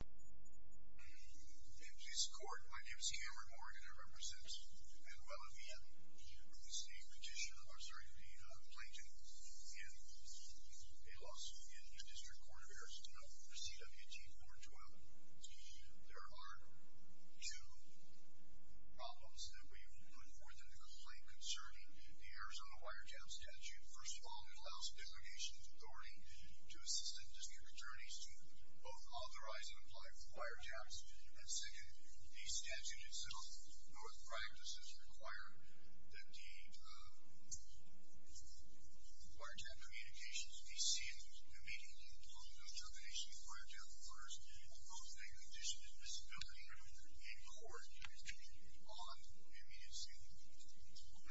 In this court, my name is Cameron Morgan and I represent Manuela Villa. I'm the State Petitioner. I'm sorry, I'm the plaintiff. I'm a Las Vegas District Court of Arrest and I'm here for CWG 412. There are two problems that we would put forth in the complaint concerning the Arizona wiretap statute. First of all, it allows the delegation's authority to assist and dispute attorneys to both authorize and apply for wiretaps. And second, the statute itself, through its practices, requires that the wiretap communications be seen immediately. The determination required to have a first and most likely condition is disability in court on the immediate scene.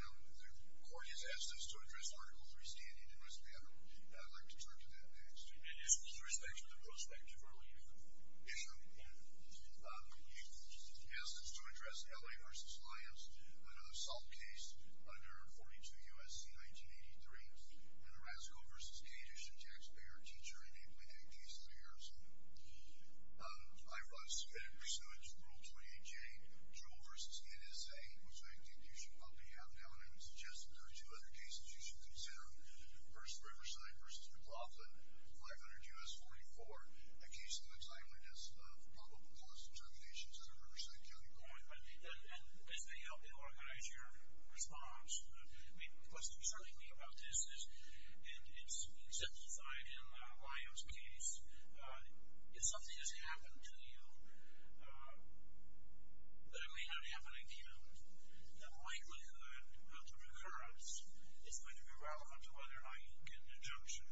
Now, the court has asked us to address Article 3 standing in this matter. I'd like to turn to that next. And just with respect to the prospective earlier issue, you've asked us to address L.A. v. Lyons with an assault case under 42 U.S.C. 1983 when a Razzle v. Cajun taxpayer teacher enacted a case in New York City. I've submitted pursuant to Rule 28J, Trouble v. NSA, which I think you should probably have now. And I would suggest that there are two other cases you should consider. First, Riverside v. McLaughlin, 500 U.S. 44, a case that looks likely to have probable cause determinations under Riverside County Court. And as they help you organize your response, what's concerning me about this is, and it's exemplified in Lyons' case, if something has happened to you that may not happen again, the likelihood of the recurrence is going to be relevant to whether or not you can get an injunction.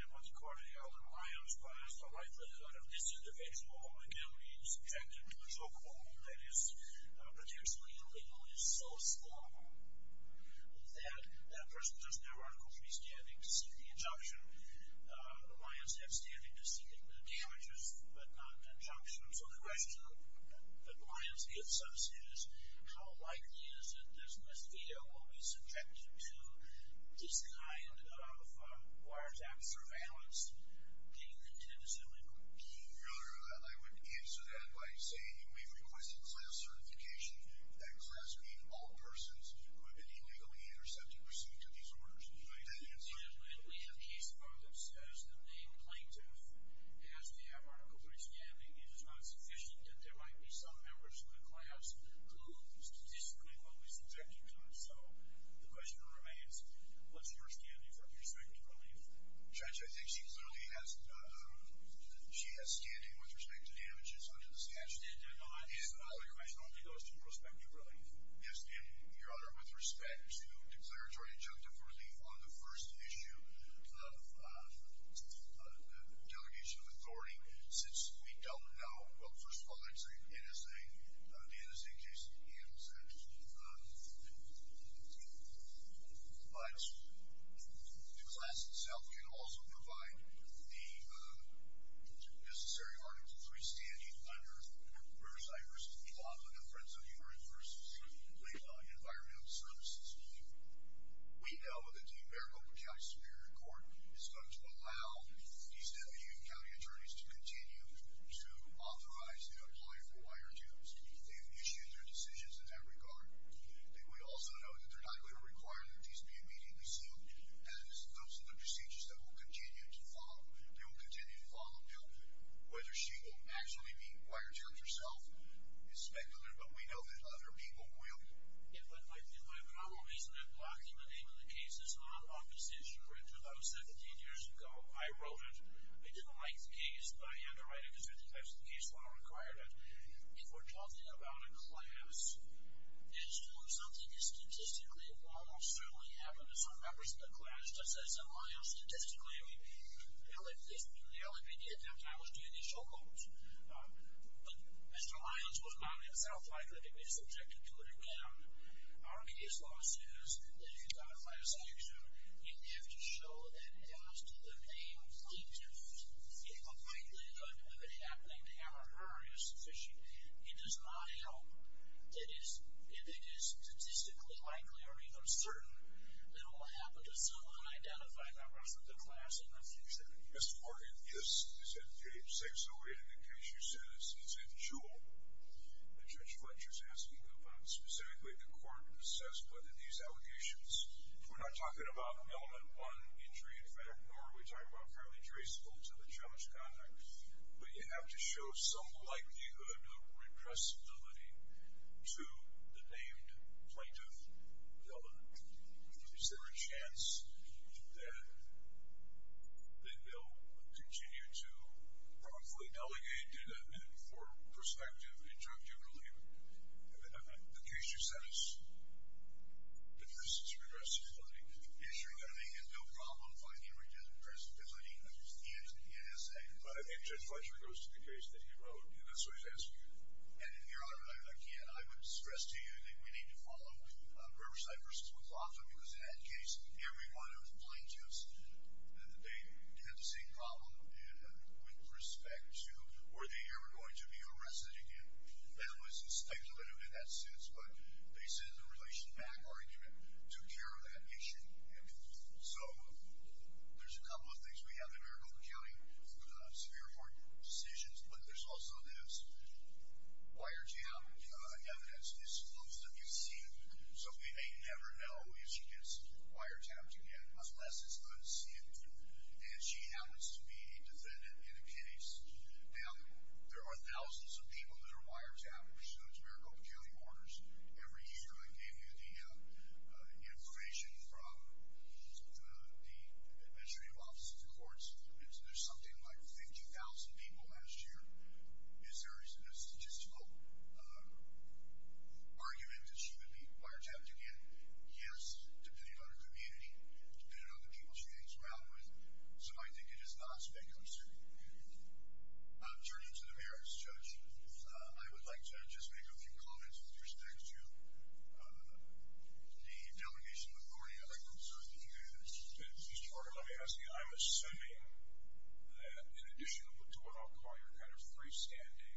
And what the court held in Lyons' class, the likelihood of this individual again being subjected to a chokehold that is potentially illegal is so small that that person does not run a court to be standing to seek the injunction. Lyons has standing to seek the damages, but not injunctions. So the question that Lyons gives us is, how likely is it that this individual will be subjected to this kind of wiretap surveillance? Do you intend to assume it will be? Your Honor, I would answer that by saying we've requested class certification. That class being all persons who have been illegally intercepted or subject to these orders. Do you intend to assume that? We have a case file that says the main plaintiff has the abhorrent complete standing. It is not sufficient that there might be some members of the class who statistically will be subjected to it. So the question remains, what's your standing from your second belief? Judge, I think she clearly has standing with respect to damages under the statute. Your Honor, your question only goes to prospective relief. Yes, ma'am. Your Honor, with respect to declaratory injunctive relief on the first issue of the delegation of authority, since we don't know, well, first of all, it is an innocent case. But the class itself can also provide the necessary articles to a standing under Riverside v. Oklahoma, the Friends of the Earth v. Lake Law and Environmental Services. We know that the Maricopa County Superior Court is going to allow these W county attorneys to continue to authorize and apply for wiretaps. They have issued their decisions in that regard. And we also know that they're not going to require that these be immediately sealed. And those are the procedures that will continue to follow. Whether she will actually be wiretapped herself is speculative, but we know that other people will. If I could, my problem isn't in blocking the name of the case. It's not on this issue. In 2017 years ago, I wrote it. I didn't like the case, but I had to write it because 50 times the case law required it. If we're talking about a class, it's true. Something is statistically almost certainly happened to some members of the class. Mr. Lyons was not himself likely to be subjected to it again. Our case law says that if you're going to apply a sanction, you have to show that it adds to the name plaintiff. If a likely event of it happening to him or her is sufficient, it does not help. If it is statistically likely or even certain, it will happen to some unidentified members of the class in the future. Mr. Morgan, this is in page 608 of the case. You said it's in Juul. Judge Fletcher is asking about specifically the court assessment in these allegations. We're not talking about element one injury in fact, nor are we talking about currently traceable to the judge conduct. But you have to show some likelihood of repressibility to the named plaintiff element. Is there a chance that they will continue to wrongfully delegate data for prospective injunctive relief? The case you sent us, this is repressibility. Yes, Your Honor, they had no problem finding repressibility in the NSA. But I think Judge Fletcher goes to the case that he wrote, and that's why he's asking you. And Your Honor, again, I would stress to you that we need to follow Riverside v. McLaughlin. It was an ad case. Everyone who complained to us, they had the same problem with respect to were they ever going to be arrested again. And it was speculative in that sense, but they said the relation back argument took care of that issue. So there's a couple of things we have in Maricopa County for the severe court decisions, but there's also this wiretap evidence. Most of you have seen it, so you may never know if she gets wiretapped again, unless it's good to see it. And she happens to be a defendant in a case. There are thousands of people that are wiretappers. She knows Maricopa County orders. Every year they give you the information from the administrative offices and courts. And so there's something like 50,000 people last year. Is there a statistical argument that she would be wiretapped again? Yes, depending on her community, depending on the people she hangs around with. So I think it is not speculative. Turning to the merits, Judge, I would like to just make a few comments with respect to the delineation authority. I'd like to observe that you had. Mr. Morgan, let me ask you. I'm assuming that in addition to what I'll call your kind of freestanding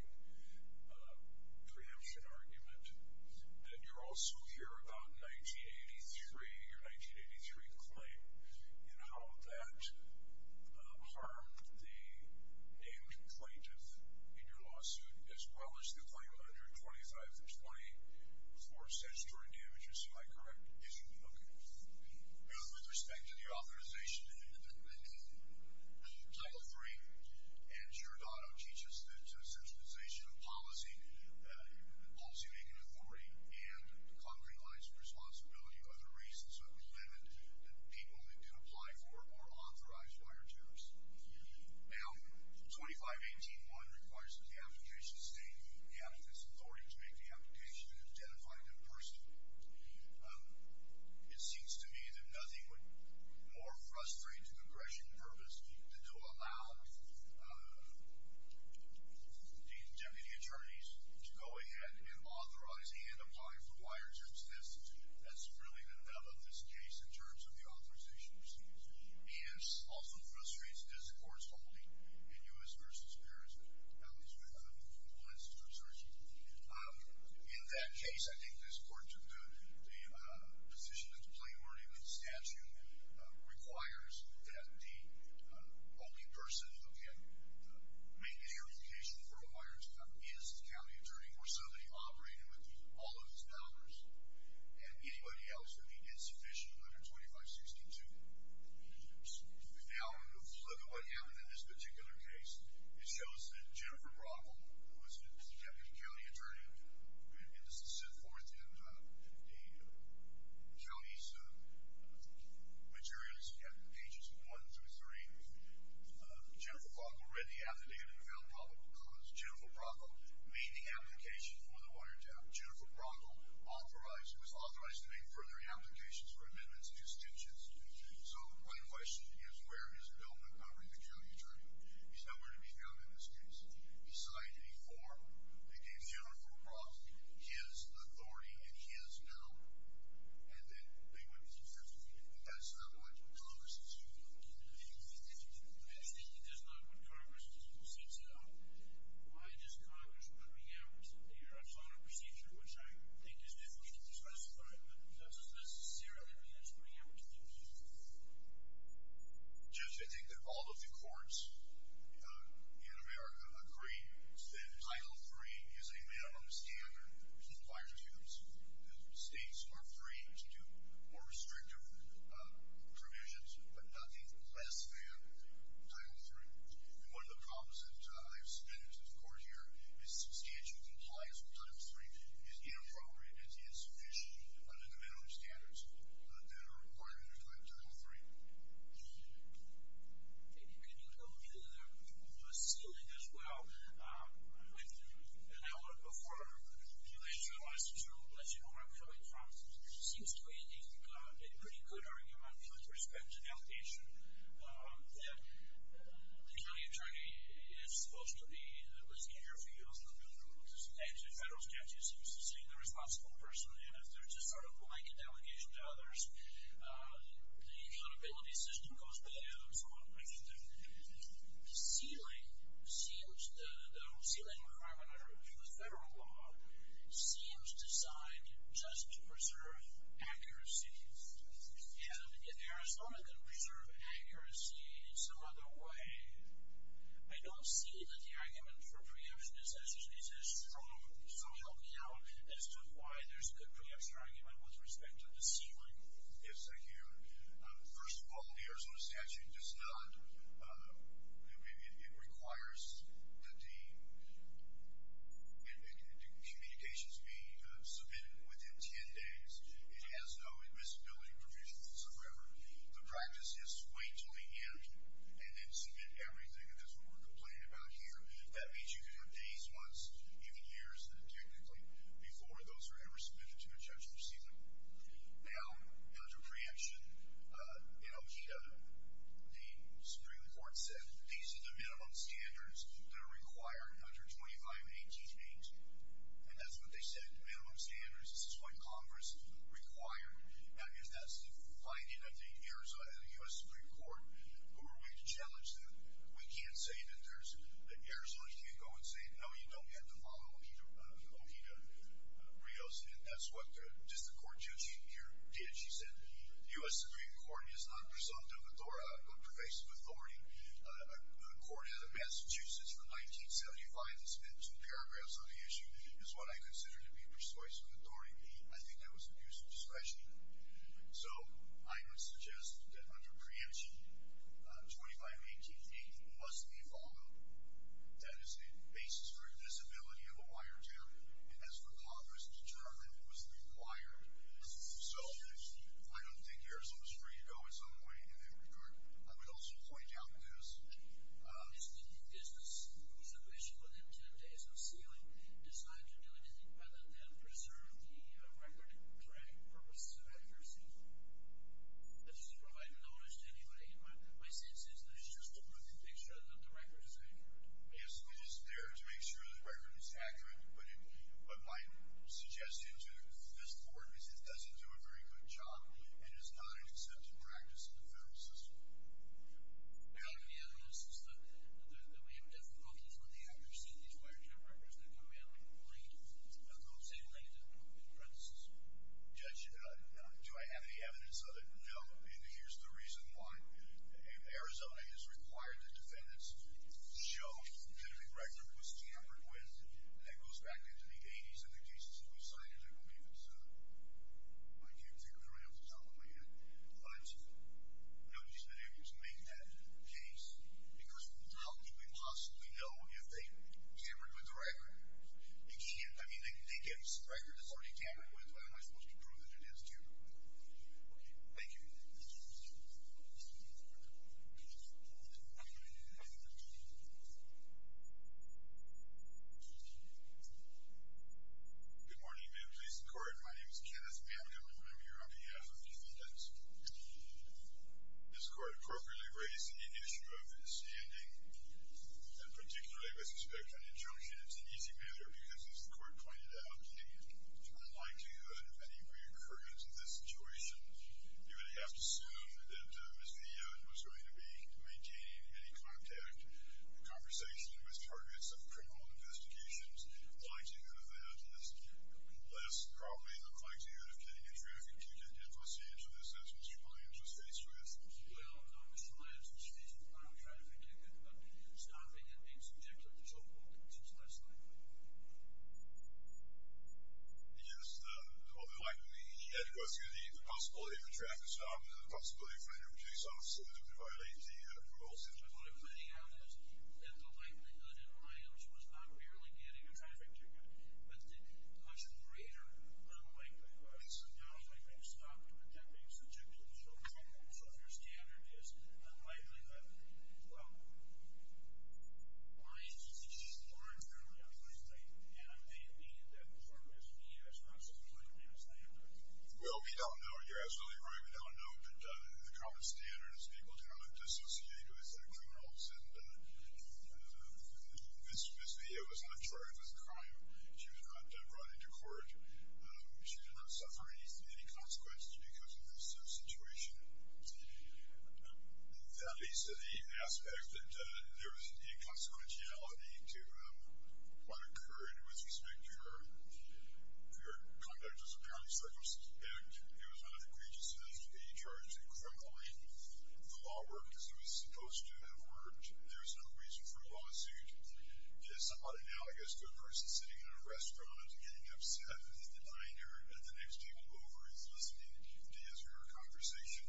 preemption argument, that you're also here about 1983, your 1983 claim, and how that harmed the named plaintiff in your lawsuit, as well as the claim under 2520 for statutory damages. Am I correct? Is it? Okay. With respect to the authorization in Title III, Anne Giordano teaches that centralization of policy, policymaking authority, and concrete lines of responsibility are the reasons that limit the people that can apply for or authorize wiretaps. Now, 2518.1 requires that the application state have this authority to make the application and identify the person. It seems to me that nothing would more frustrate to aggression and purpose than to allow the deputy attorneys to go ahead and authorize Anne to apply for wiretaps. That's really the nut of this case in terms of the authorization. It also frustrates me, as the Court's holding in U.S. v. Paris, at least we haven't moved from one institution to the other. In that case, I think the position of the plaintiff in statute requires that the only person who can make the application for a wiretap is the county attorney or somebody operating with all of these powers, and anybody else would be insufficient under 2562. Now, look at what happened in this particular case. It shows that Jennifer Brockle, who is the deputy county attorney, and this is set forth in the county's materials, pages 1 through 3. Jennifer Brockle read the affidavit and found probable cause. Jennifer Brockle made the application for the wiretap. Jennifer Brockle was authorized to make further applications for amendments and extensions. So the plain question is, where is Bill Montgomery, the county attorney? He's nowhere to be found in this case. He signed a form that gave Jennifer Brockle his authority and his power, and then they went to the attorney, and that's not what Congress is doing. I just think that that's not what Congress does. Why does Congress put me out? You know, it's not a procedure, which I think is difficult to specify, but that doesn't necessarily mean it's putting me out to the people. Judge, I think that all of the courts in America agree that Title III is a man-on-the-standard. States are free to do more restrictive provisions, but nothing less than Title III. And one of the problems that I've submitted to the court here is substantial compliance with Title III is inappropriate and insufficient under the minimum standards that are required under Title III. Can you tell me that there are people on the ceiling as well? I looked before, and I realized, too, that, you know, my colleague, Tom, seems to make a pretty good argument with respect to the allegation that the county attorney is supposed to be the one that's in your field, and the federal statute seems to say the responsible person, and if there's a sort of blanket allegation to others, the accountability system goes bad and so on. The ceiling seems to, the ceiling crime under the federal law seems to decide just to preserve accuracy, and in Arizona, they preserve accuracy in some other way. I don't see that the argument for preemption is as strong, so help me out, as to why there's a preemption argument with respect to the ceiling. Yes, I hear. First of all, the Arizona statute does not, it requires that the communications be submitted within 10 days. It has no admissibility provisions, however. The practice is to wait until the end and then submit everything, and that's what we're complaining about here. That means you can have days, months, even years, technically, before those are ever submitted to a judge or ceiling. Now, under preemption, you know, the Supreme Court said, these are the minimum standards that are required under 25-18. And that's what they said, minimum standards. This is what Congress required. Now, if that's the finding of the Arizona, the U.S. Supreme Court, who are willing to challenge that, we can't say that Arizona can't go and say, no, you don't have to follow OHEA rules, and that's what the District Court judge here did. She said, the U.S. Supreme Court is not presumptive of pervasive authority. A court in Massachusetts from 1975 that spent two paragraphs on the issue is what I consider to be persuasive authority. I think that was an abuse of discretion. So I would suggest that under preemption, 25-18 must be followed. That is a basis for admissibility of a wiretap, and that's what Congress determined was required. So I don't think Arizona's free to go in some way in that regard. I would also point out this. If the business was official within 10 days of sealing, decide to do anything other than preserve the record, correct, for pursuit of accuracy. That's to provide knowledge to anybody. My sense is that it's just to look and make sure that the record is accurate. Yes, it is there to make sure the record is accurate, but my suggestion to this Court is it doesn't do a very good job and is not an accepted practice in the federal system. The only other notice is that we have difficulties with the accuracy of these wiretap records. They're going to be on the same length of premises. Judge, do I have any evidence of it? No, and here's the reason why. Arizona has required that defendants show that the record was tampered with and that goes back into the 80s in the cases that we cited. I can't figure it out off the top of my head. But nobody's been able to make that case because how can we possibly know if they tampered with the record? They can't. I mean, they gave us a record that's already tampered with. How am I supposed to prove that it is, too? Okay, thank you. Thank you. Good morning, ma'am, police and court. My name is Kenneth Mamdouh. I'm here on behalf of the defendants. This Court appropriately raised the issue of standing, and particularly with respect to an injunction. It's an easy matter because, as the Court pointed out, the likelihood of any reoccurrence of this situation, you would have to assume that Mr. Young was going to be maintaining any contact, conversation with targets of criminal investigations. The likelihood of that is less probably than the likelihood of getting a traffic ticket in Los Angeles, as Mr. Williams was faced with. Well, no, Mr. Williams was faced with no traffic ticket, but stopping and being subject to a patrol, which is less likely. Yes, although likely, he had to question the possibility of a traffic stop and the possibility of putting a reduce on it, so that it would violate the parole system. The point I'm getting at is that the likelihood in Williams was not merely getting a traffic ticket, but the much greater unlikely, at least in Dallas, being stopped and being subjected to a patrol, so if your standard is unlikely, then, well, why is it that she's more inherently unlikely? And I may have made that point, but to me, that's not such a clear standard. Well, we don't know. You're absolutely right. We don't know. But the common standard is people cannot dissociate who is a criminal. And Ms. Villa was not charged with a crime. She was not brought into court. She did not suffer any consequences because of this situation. At least in the aspect that there was a consequentiality to what occurred with respect to her conduct as a parent, so I suspect it was not an egregious offense to be charged with criminally. The law worked as it was supposed to have worked. There was no reason for a lawsuit. It's somewhat analogous to a person sitting in a restaurant, getting upset in the diner, and the next table over is listening to you to answer your conversation.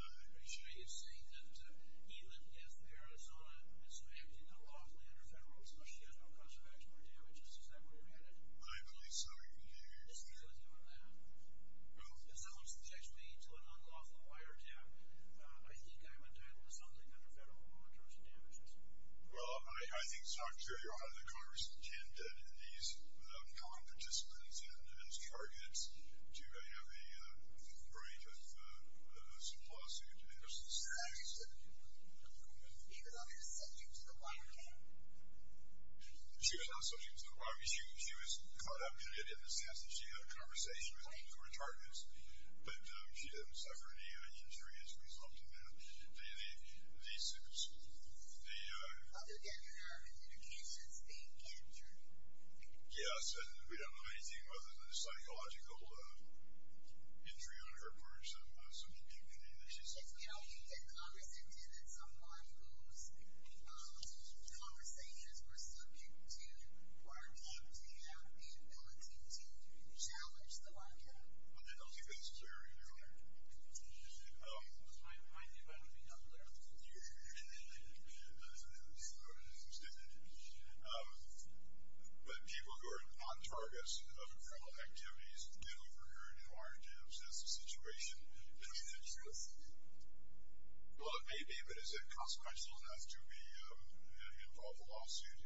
I'm sure you've seen that Elan F. Arizona is acting unlawfully under federal law, especially as no cost of action or damages. Is that where you're headed? I believe so. Is Elan doing that? No. If someone subjects me to an unlawful wiretap, I think I'm entitled to something under federal law in terms of damages. Well, I think, Dr. O'Hara, the Congress intended these non-participants as targets to have a brief of some lawsuit. I understand. You're not subject to the wiretap? She was not subject to the wiretap. She was caught up in the sense that she had a conversation with the court targets, but she didn't suffer any injury as a result of that. Do you think these are the ‑‑ Well, again, there are communications being captured. Yes, and we don't know anything other than a psychological injury on her part, so I'm not subjecting anything that she suffered. You know, the Congress intended some of those conversations were subject to or are dubbed to have the ability to challenge the wiretap. I don't think that's fair either. It was my idea, but I don't think that's fair. It was your idea. It was my idea, but I don't think that's fair. But people who are non-targets of criminal activities do offer her a new arm, James. That's the situation. Do you think that's true? Well, it may be, but is it consequential enough to be involved in a lawsuit?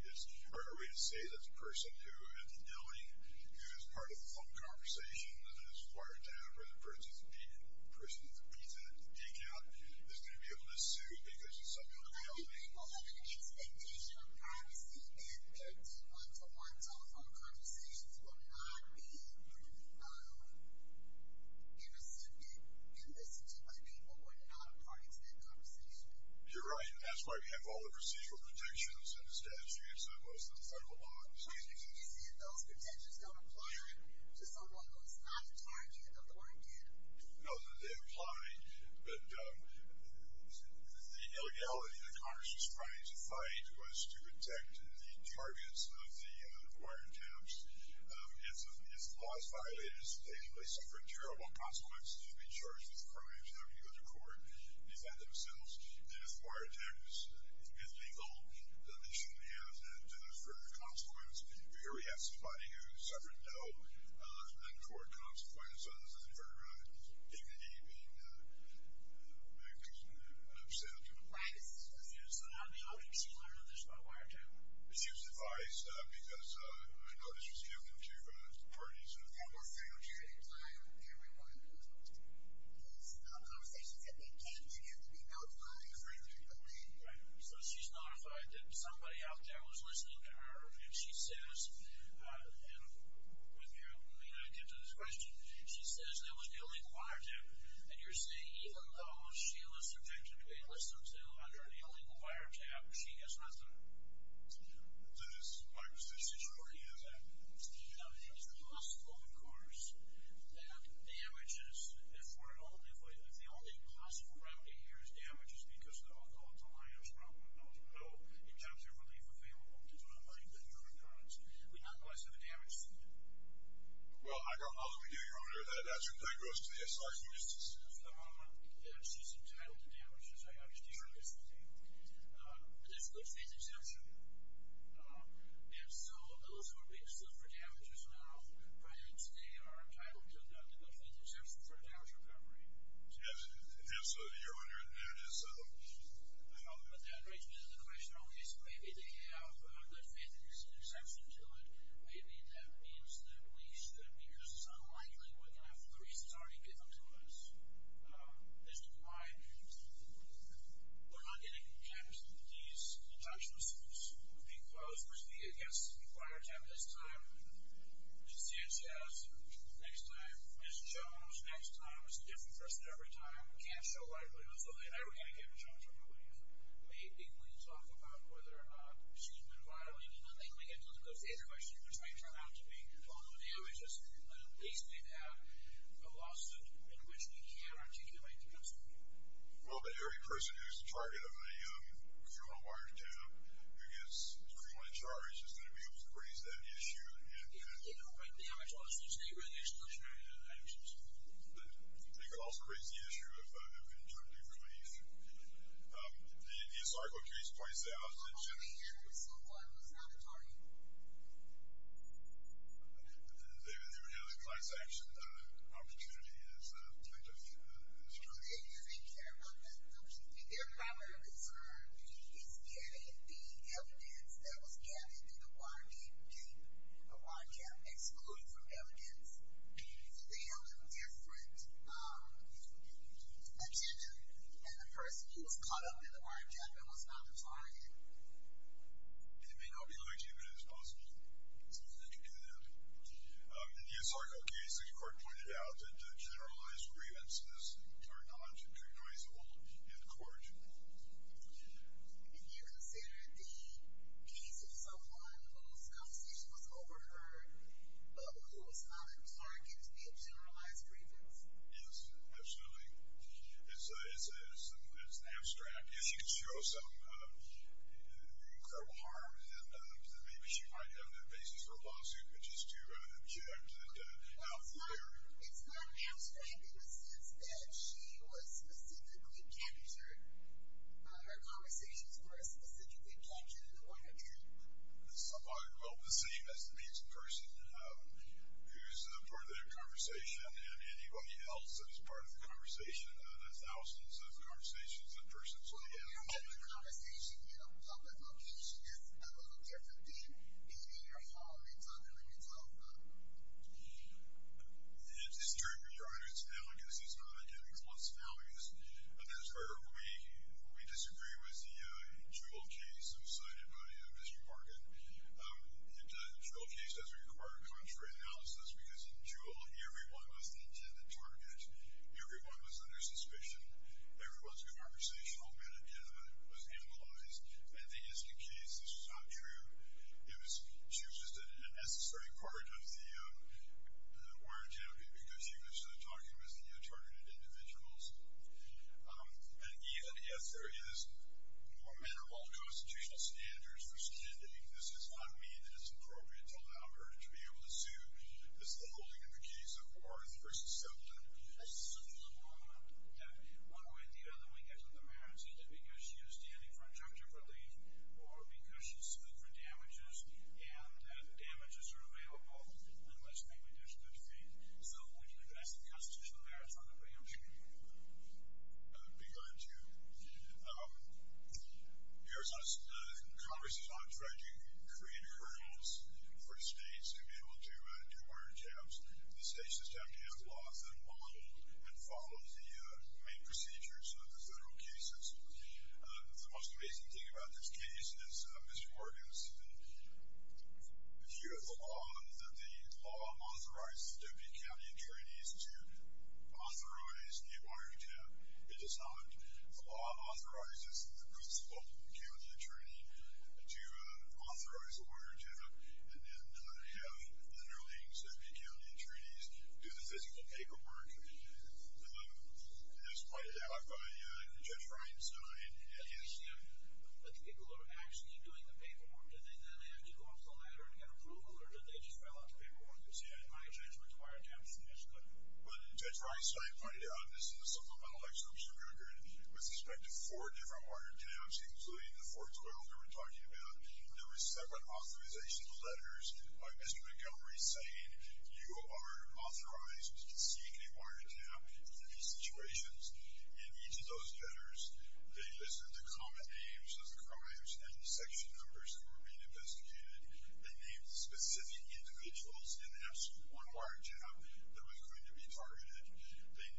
Or are we to say that the person who had the killing, who was part of the phone conversation and then was fired down, or the person who's beaten, the person who's beat that geek out, is going to be able to sue because it's someone who killed him? I think people have an expectation of privacy and that the one‑to‑one telephone conversations will not be intercepted and listened to by people who are not part of that conversation. You're right. That's why we have all the procedural protections and the statutes and most of the federal laws. James, did you see if those protections don't apply to someone who's not a target of the war again? No, they apply. But the illegality that Congress was trying to fight was to protect the targets of the fire camps. If the law is violated, they suffer terrible consequences of being charged with crimes and having to go to court and defend themselves. And if fire attacks is legal, then they shouldn't have that further consequence. Here we have somebody who suffered no court consequences as a result of his dignity being upset. Right. This is confusing. How did she learn about this? By what? She was advised because she was killed in two parties. One more thing. We're going to take time and we're going to go through the telephone conversations. And they can't immediately be notified if they're going to be deleted. Right. So she's notified that somebody out there was listening to her and she says, and I'll get to this question, she says that was the illegal wiretap. And you're saying even though she was subjected to be listened to under the illegal wiretap, she has nothing? This is part of the situation. Is that possible? It's possible, of course, that damages, if the only possible remedy here is damages because the alcohol at the wire is broken, no injunctive relief available, because we don't have money to pay for the insurance. We'd not go as far as damaging it. Well, how do we do, Your Honor, that that should play gross to the S.I.C. witnesses? She's entitled to damages. I understand that. But there's good faith exemption. And so those who are being sued for damages now, they are entitled to good faith exemption for damage recovery. Yes, Your Honor, and that is? That raises the question, or at least maybe they have good faith exemption to it. Maybe that means that we should be just as unlikely looking at the reasons already given to us. This is why we're not getting these deductions, because we're speaking against the wiretap this time, Ms. Sanchez next time, Ms. Jones next time. It's a different person every time. We can't show likelihood of something. I don't want to get in trouble for no reason. Maybe we can talk about whether or not she's been violated. And then they can look at those other questions, which might turn out to be follow-up damages. But at least we'd have a lawsuit in which we can articulate the consequences. Well, but every person who's the target of a criminal wiretap who gets criminally charged is going to be able to raise that issue. You know, but damage lawsuits, they really are solutionary deductions. They could also raise the issue of injunctive relief. The historical case points out that... Only if someone was not the target. They would have the class-action opportunity as kind of a strategy. They don't care about that. Their primary concern is getting the evidence that was gathered through the wiretap, excluded from evidence. So they have a different attention than the person who was caught up in the wiretap and was not the target. And it may not be as legitimate as possible. Something that could do that. In the historical case, the court pointed out that the generalized grievances are not recognizable in the court. If you consider the case of someone whose conversation was over her, who was not a target, it's being generalized grievance. Yes, absolutely. It's abstract. Yeah, she could show some incredible harm. And maybe she might have the basis for a lawsuit, which is to object and not fear. It's not abstract in the sense that she was specifically captured. Her conversations were specifically captured in the wiretap. Well, the same as the pizza person who's part of their conversation and anybody else that is part of the conversation. That's thousands of conversations in person. So, yeah. The conversation, you know, I don't care if it did, it's in your heart. It's not in your mind. And it's true, Your Honor, it's analogous. It's not, again, close analogous, but that's where we disagree with the Jewell case that was cited by Mr. Morgan. The Jewell case has required contrary analysis because in Jewell, everyone was the intended target. Everyone was under suspicion. Everyone's conversational metaphor was analogous. And in the Isken case, this was not true. She was just an unnecessary part of the wiretap because she was talking with the targeted individuals. And yet, yes, there is more manner of all constitutional standards for standing. This does not mean that it's appropriate to allow her to be able to sue. It's the holding in the case of Orr v. Siblin. Orr v. Siblin. One way or the other, when you get to the merits, is it because she was standing for injunctive relief or because she sued for damages and the damages are available unless maybe there's good faith. So, when you address the constitutional merits in front of a human being, be kind to them. Congress is not trying to create hurdles for states to be able to do more jabs. The state system has laws that model and follow the main procedures of the federal cases. The most amazing thing about this case is, Mr. Borges, if you have a law that the law authorizes the Deputy County Attorneys to authorize the Orr jab, it's a solid. The law authorizes the principal county attorney to authorize the Orr jab, and then you have the early Deputy County Attorneys do the physical paperwork as pointed out by Judge Reinstein. Yes, but the people are actually doing the paperwork. Do they then have to go up the ladder to get approval, or did they just file out the paperwork and say, hey, my judgment, the Orr jab is finished? But, Judge Reinstein pointed out this in the supplemental extortion record, with respect to four different Orr jabs, including the 412 we were talking about, there were separate authorization letters by Mr. Montgomery saying, you are authorized to seek a Orr jab in these situations. In each of those letters, they listed the common names of the crimes and the section numbers that were being investigated. They named specific individuals in the absolute one Orr jab that was going to be targeted. They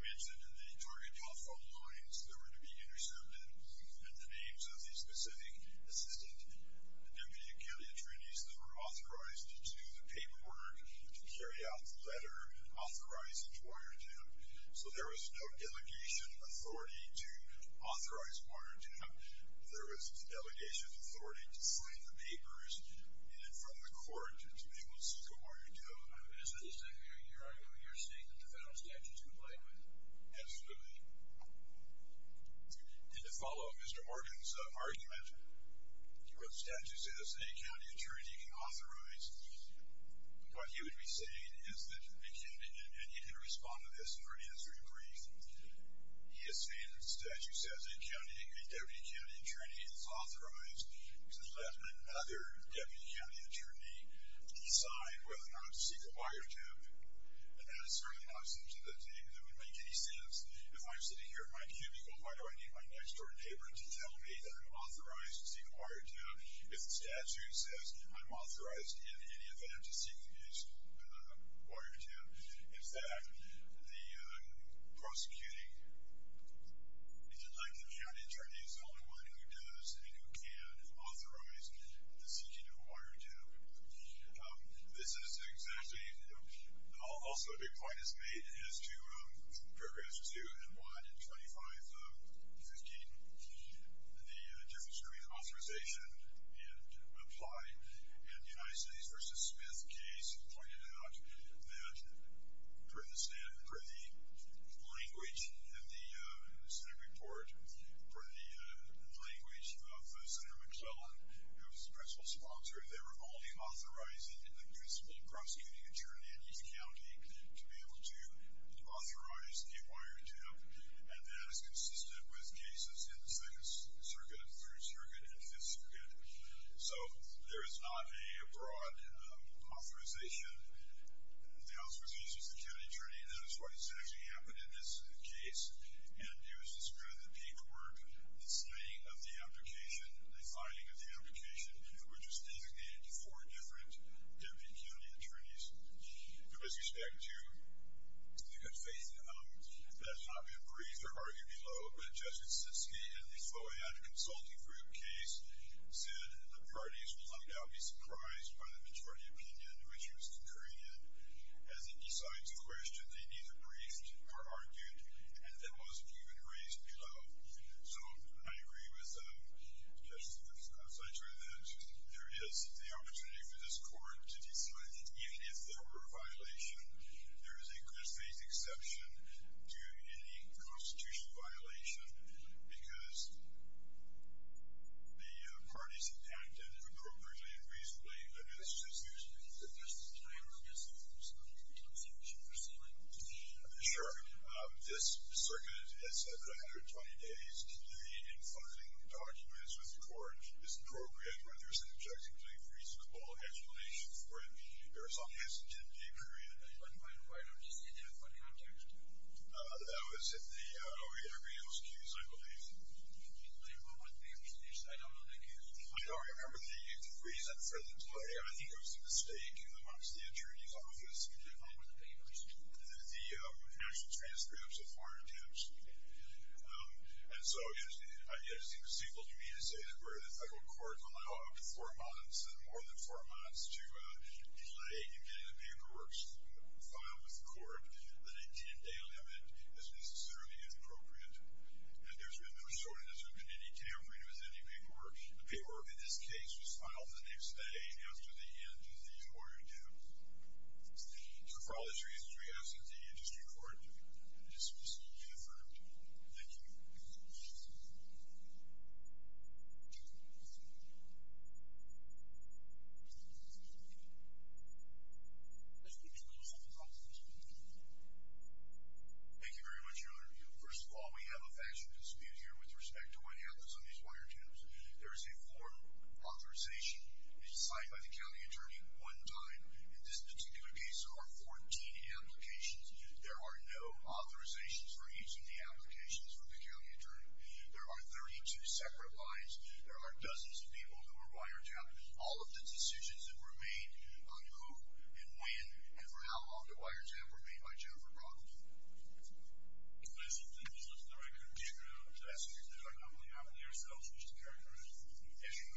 mentioned the target telephone lines that were going to be intercepted, and the names of the specific assistant Deputy County Attorneys that were authorized to do the paperwork, to carry out the letter authorizing the Orr jab. So there was no delegation authority to authorize Orr jab. There was delegation authority to sign the papers, and from the court, to be able to go on and do it. Is this your argument, your statement, that the federal statute is in play with it? Absolutely. And to follow Mr. Orr jab's argument, where the statute says any county attorney can authorize what he would be saying is that, and you can respond to this in your answer brief, he is saying that the statute says any county, a Deputy County Attorney is authorized to let another Deputy County Attorney decide whether or not to seek a wiretap. And that is certainly not something that would make any sense. If I'm sitting here in my cubicle, why do I need my next door neighbor to tell me that I'm authorized to seek a wiretap if the statute says I'm authorized in any event to seek a wiretap? In fact, the likely county attorney is the only one who does and who can authorize the seeking of a wiretap. This is exactly, also a big point is made as to paragraphs 2 and 125 of 15. The difference between authorization and apply, and the United States v. Smith case pointed out that for the language in the Senate report, for the language of Senator McClellan, who was the principal sponsor, they were only authorizing the principal prosecuting attorney in each county to be able to authorize the appointment to him. And that is consistent with cases in the 2nd Circuit, 3rd Circuit, and 5th Circuit. So, there is not a broad authorization. The House recognizes the county attorney, and that is why this actually happened in this case. And it was described in the paperwork, the signing of the application, the filing of the application, which was designated to four different deputy county attorneys. With respect to the good faith element, that has not been briefed or argued below, but Jessica Ciske in the FOIA consulting group case said the parties will not now be surprised by the majority opinion, which he was concurring in. As he decides a question, they neither briefed or argued, and that wasn't even raised below. So, I agree with Jessica Ciske that there is the opportunity for this court to decide that even if there were a violation, there is a good faith exception to any constitutional violation because the parties have acted appropriately and reasonably in this case. Sure. This circuit has had 120 days. The infunding of documents with the court is appropriate when there is an objectively reasonable explanation for it. There is some hesitancy, period. That was in the FOIA appeals case, I believe. I don't remember the degree set for the delay. I think it was a mistake amongst the attorney's office with the actual transcripts of foreign attempts. And so, I guess the conceivable community says where the federal court allowed four months and more than four months to delay in getting the paperwork filed with the court, that a 10-day limit is necessarily appropriate. And there has been no shortness of any detail when it was any paperwork. The paperwork in this case was filed the next day after the end of the FOIA due. So, for all these reasons, we ask that the industry court dismiss and defer. Thank you. Thank you. Thank you very much, Your Honor. First of all, we have a factual dispute here with respect to what happens on these wiretaps. There is a formal authorization signed by the county attorney one time. In this particular case, there are 14 applications. There are no authorizations for each of the applications for the county attorney. There are 32 separate lines. There are dozens of people who were wiretapped. All of the decisions that were made on who and when and for how long the wiretaps were made by Jennifer Brockley. Mr. Davis, let's look at the record and continue to ask questions that are not only ourselves, which to characterize the issue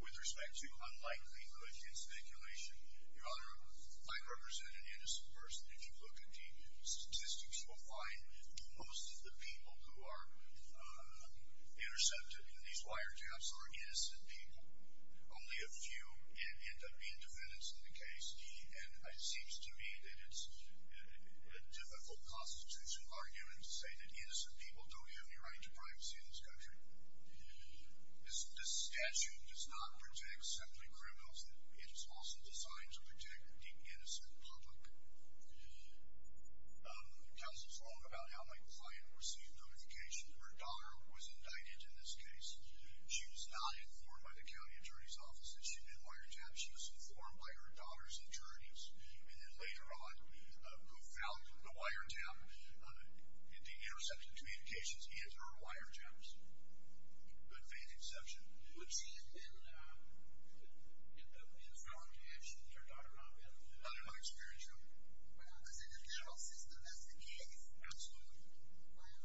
with respect to unlikelihood and speculation. Your Honor, I represent an innocent person. If you look at the statistics, you will find most of the people who are intercepted in these wiretaps are innocent people. Only a few end up being defendants in the case. It seems to me that it's a difficult constitutional argument to say that innocent people don't have any right to privacy in this country. This statute does not protect simply criminals. It is also designed to protect the innocent public. Justice Long about how my client received notification that her daughter was indicted in this case. She was not informed by the county attorney's office that she had been wiretapped. She was informed by her daughter's attorneys and then later on who found the wiretap at the interception communications and her wiretaps. Good faith exception. Would she have been in the wrong connection if her daughter had not been? Not in my experience, no. But in the judicial system, that's the case. Absolutely.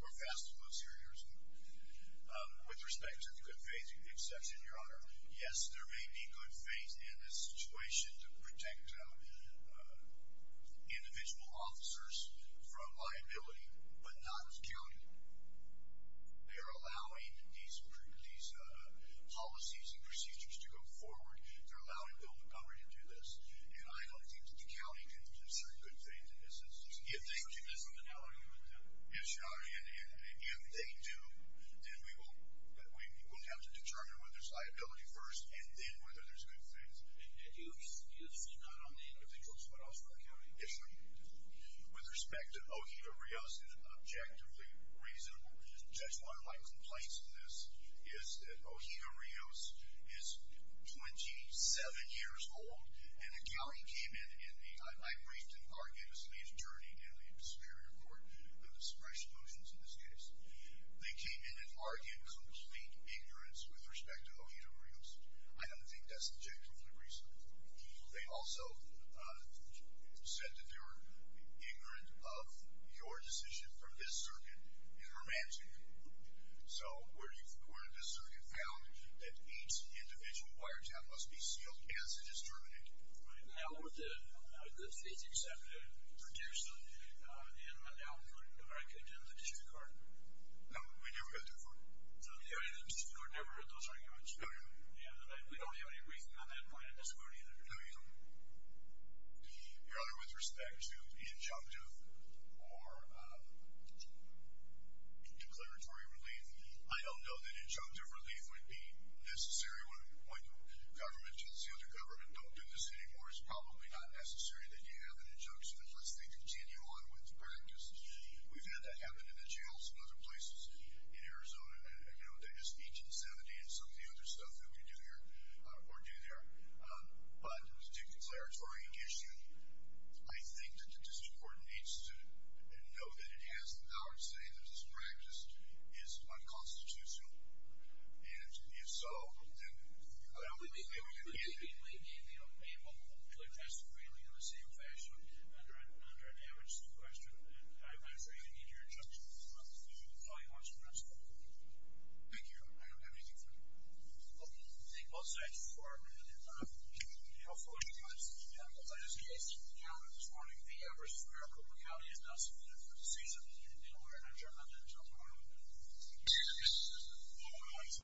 We're faster than most here in Arizona. With respect to the good faith exception, Your Honor, yes, there may be good faith in this situation to protect individual officers from liability, but not security. They are allowing these policies and procedures to go forward. They are allowing the government to do this. I don't think the county can do certain good things in this instance. Would you disagree with them? If they do, then we will have to determine whether there's liability first and then whether there's good faith. You'll disagree not on the individual, but also on the county? With respect to O'Hia Rios, it is objectively reasonable. Just one of my complaints to this is that O'Hia Rios is 27 years old, and the county came in and I briefed and argued his journey in the Superior Court, the discretion motions in this case. They came in and argued complete ignorance with respect to O'Hia Rios. I don't think that's objectively reasonable. They also said that they were ignorant of your decision from this circuit, and romantic. So, where did this circuit found that each individual wiretap must be sealed as it is terminated? How would the faith executive produce an almanac in the district court? No, we never got to court. So, the district court never heard those arguments? No, no. We don't have any briefing on that point in this court either? No, no. With respect to the injunctive, or declaratory relief, I don't know that injunctive relief would be necessary when government tells the other government, don't do this anymore, it's probably not necessary that you have an injunction unless they continue on with practice. We've had that happen in the jails and other places in Arizona since 1870 and some of the other stuff that we do here, or do there, but the declaratory issue, I think that the district court needs to know that it has the power to say that this practice is unconstitutional and if so, then we can't... We may be able to address the ruling in the same fashion under an amendment to the question and I'm not sure you can get your judgment on this issue, but if all you want to know, that's fine. Thank you. I don't have anything further. Thank both sides for your time. I also want you guys to know that as a case, this morning, the Everett and Maricopa County has not submitted for the season and we're not adjourned until tomorrow. Thank you.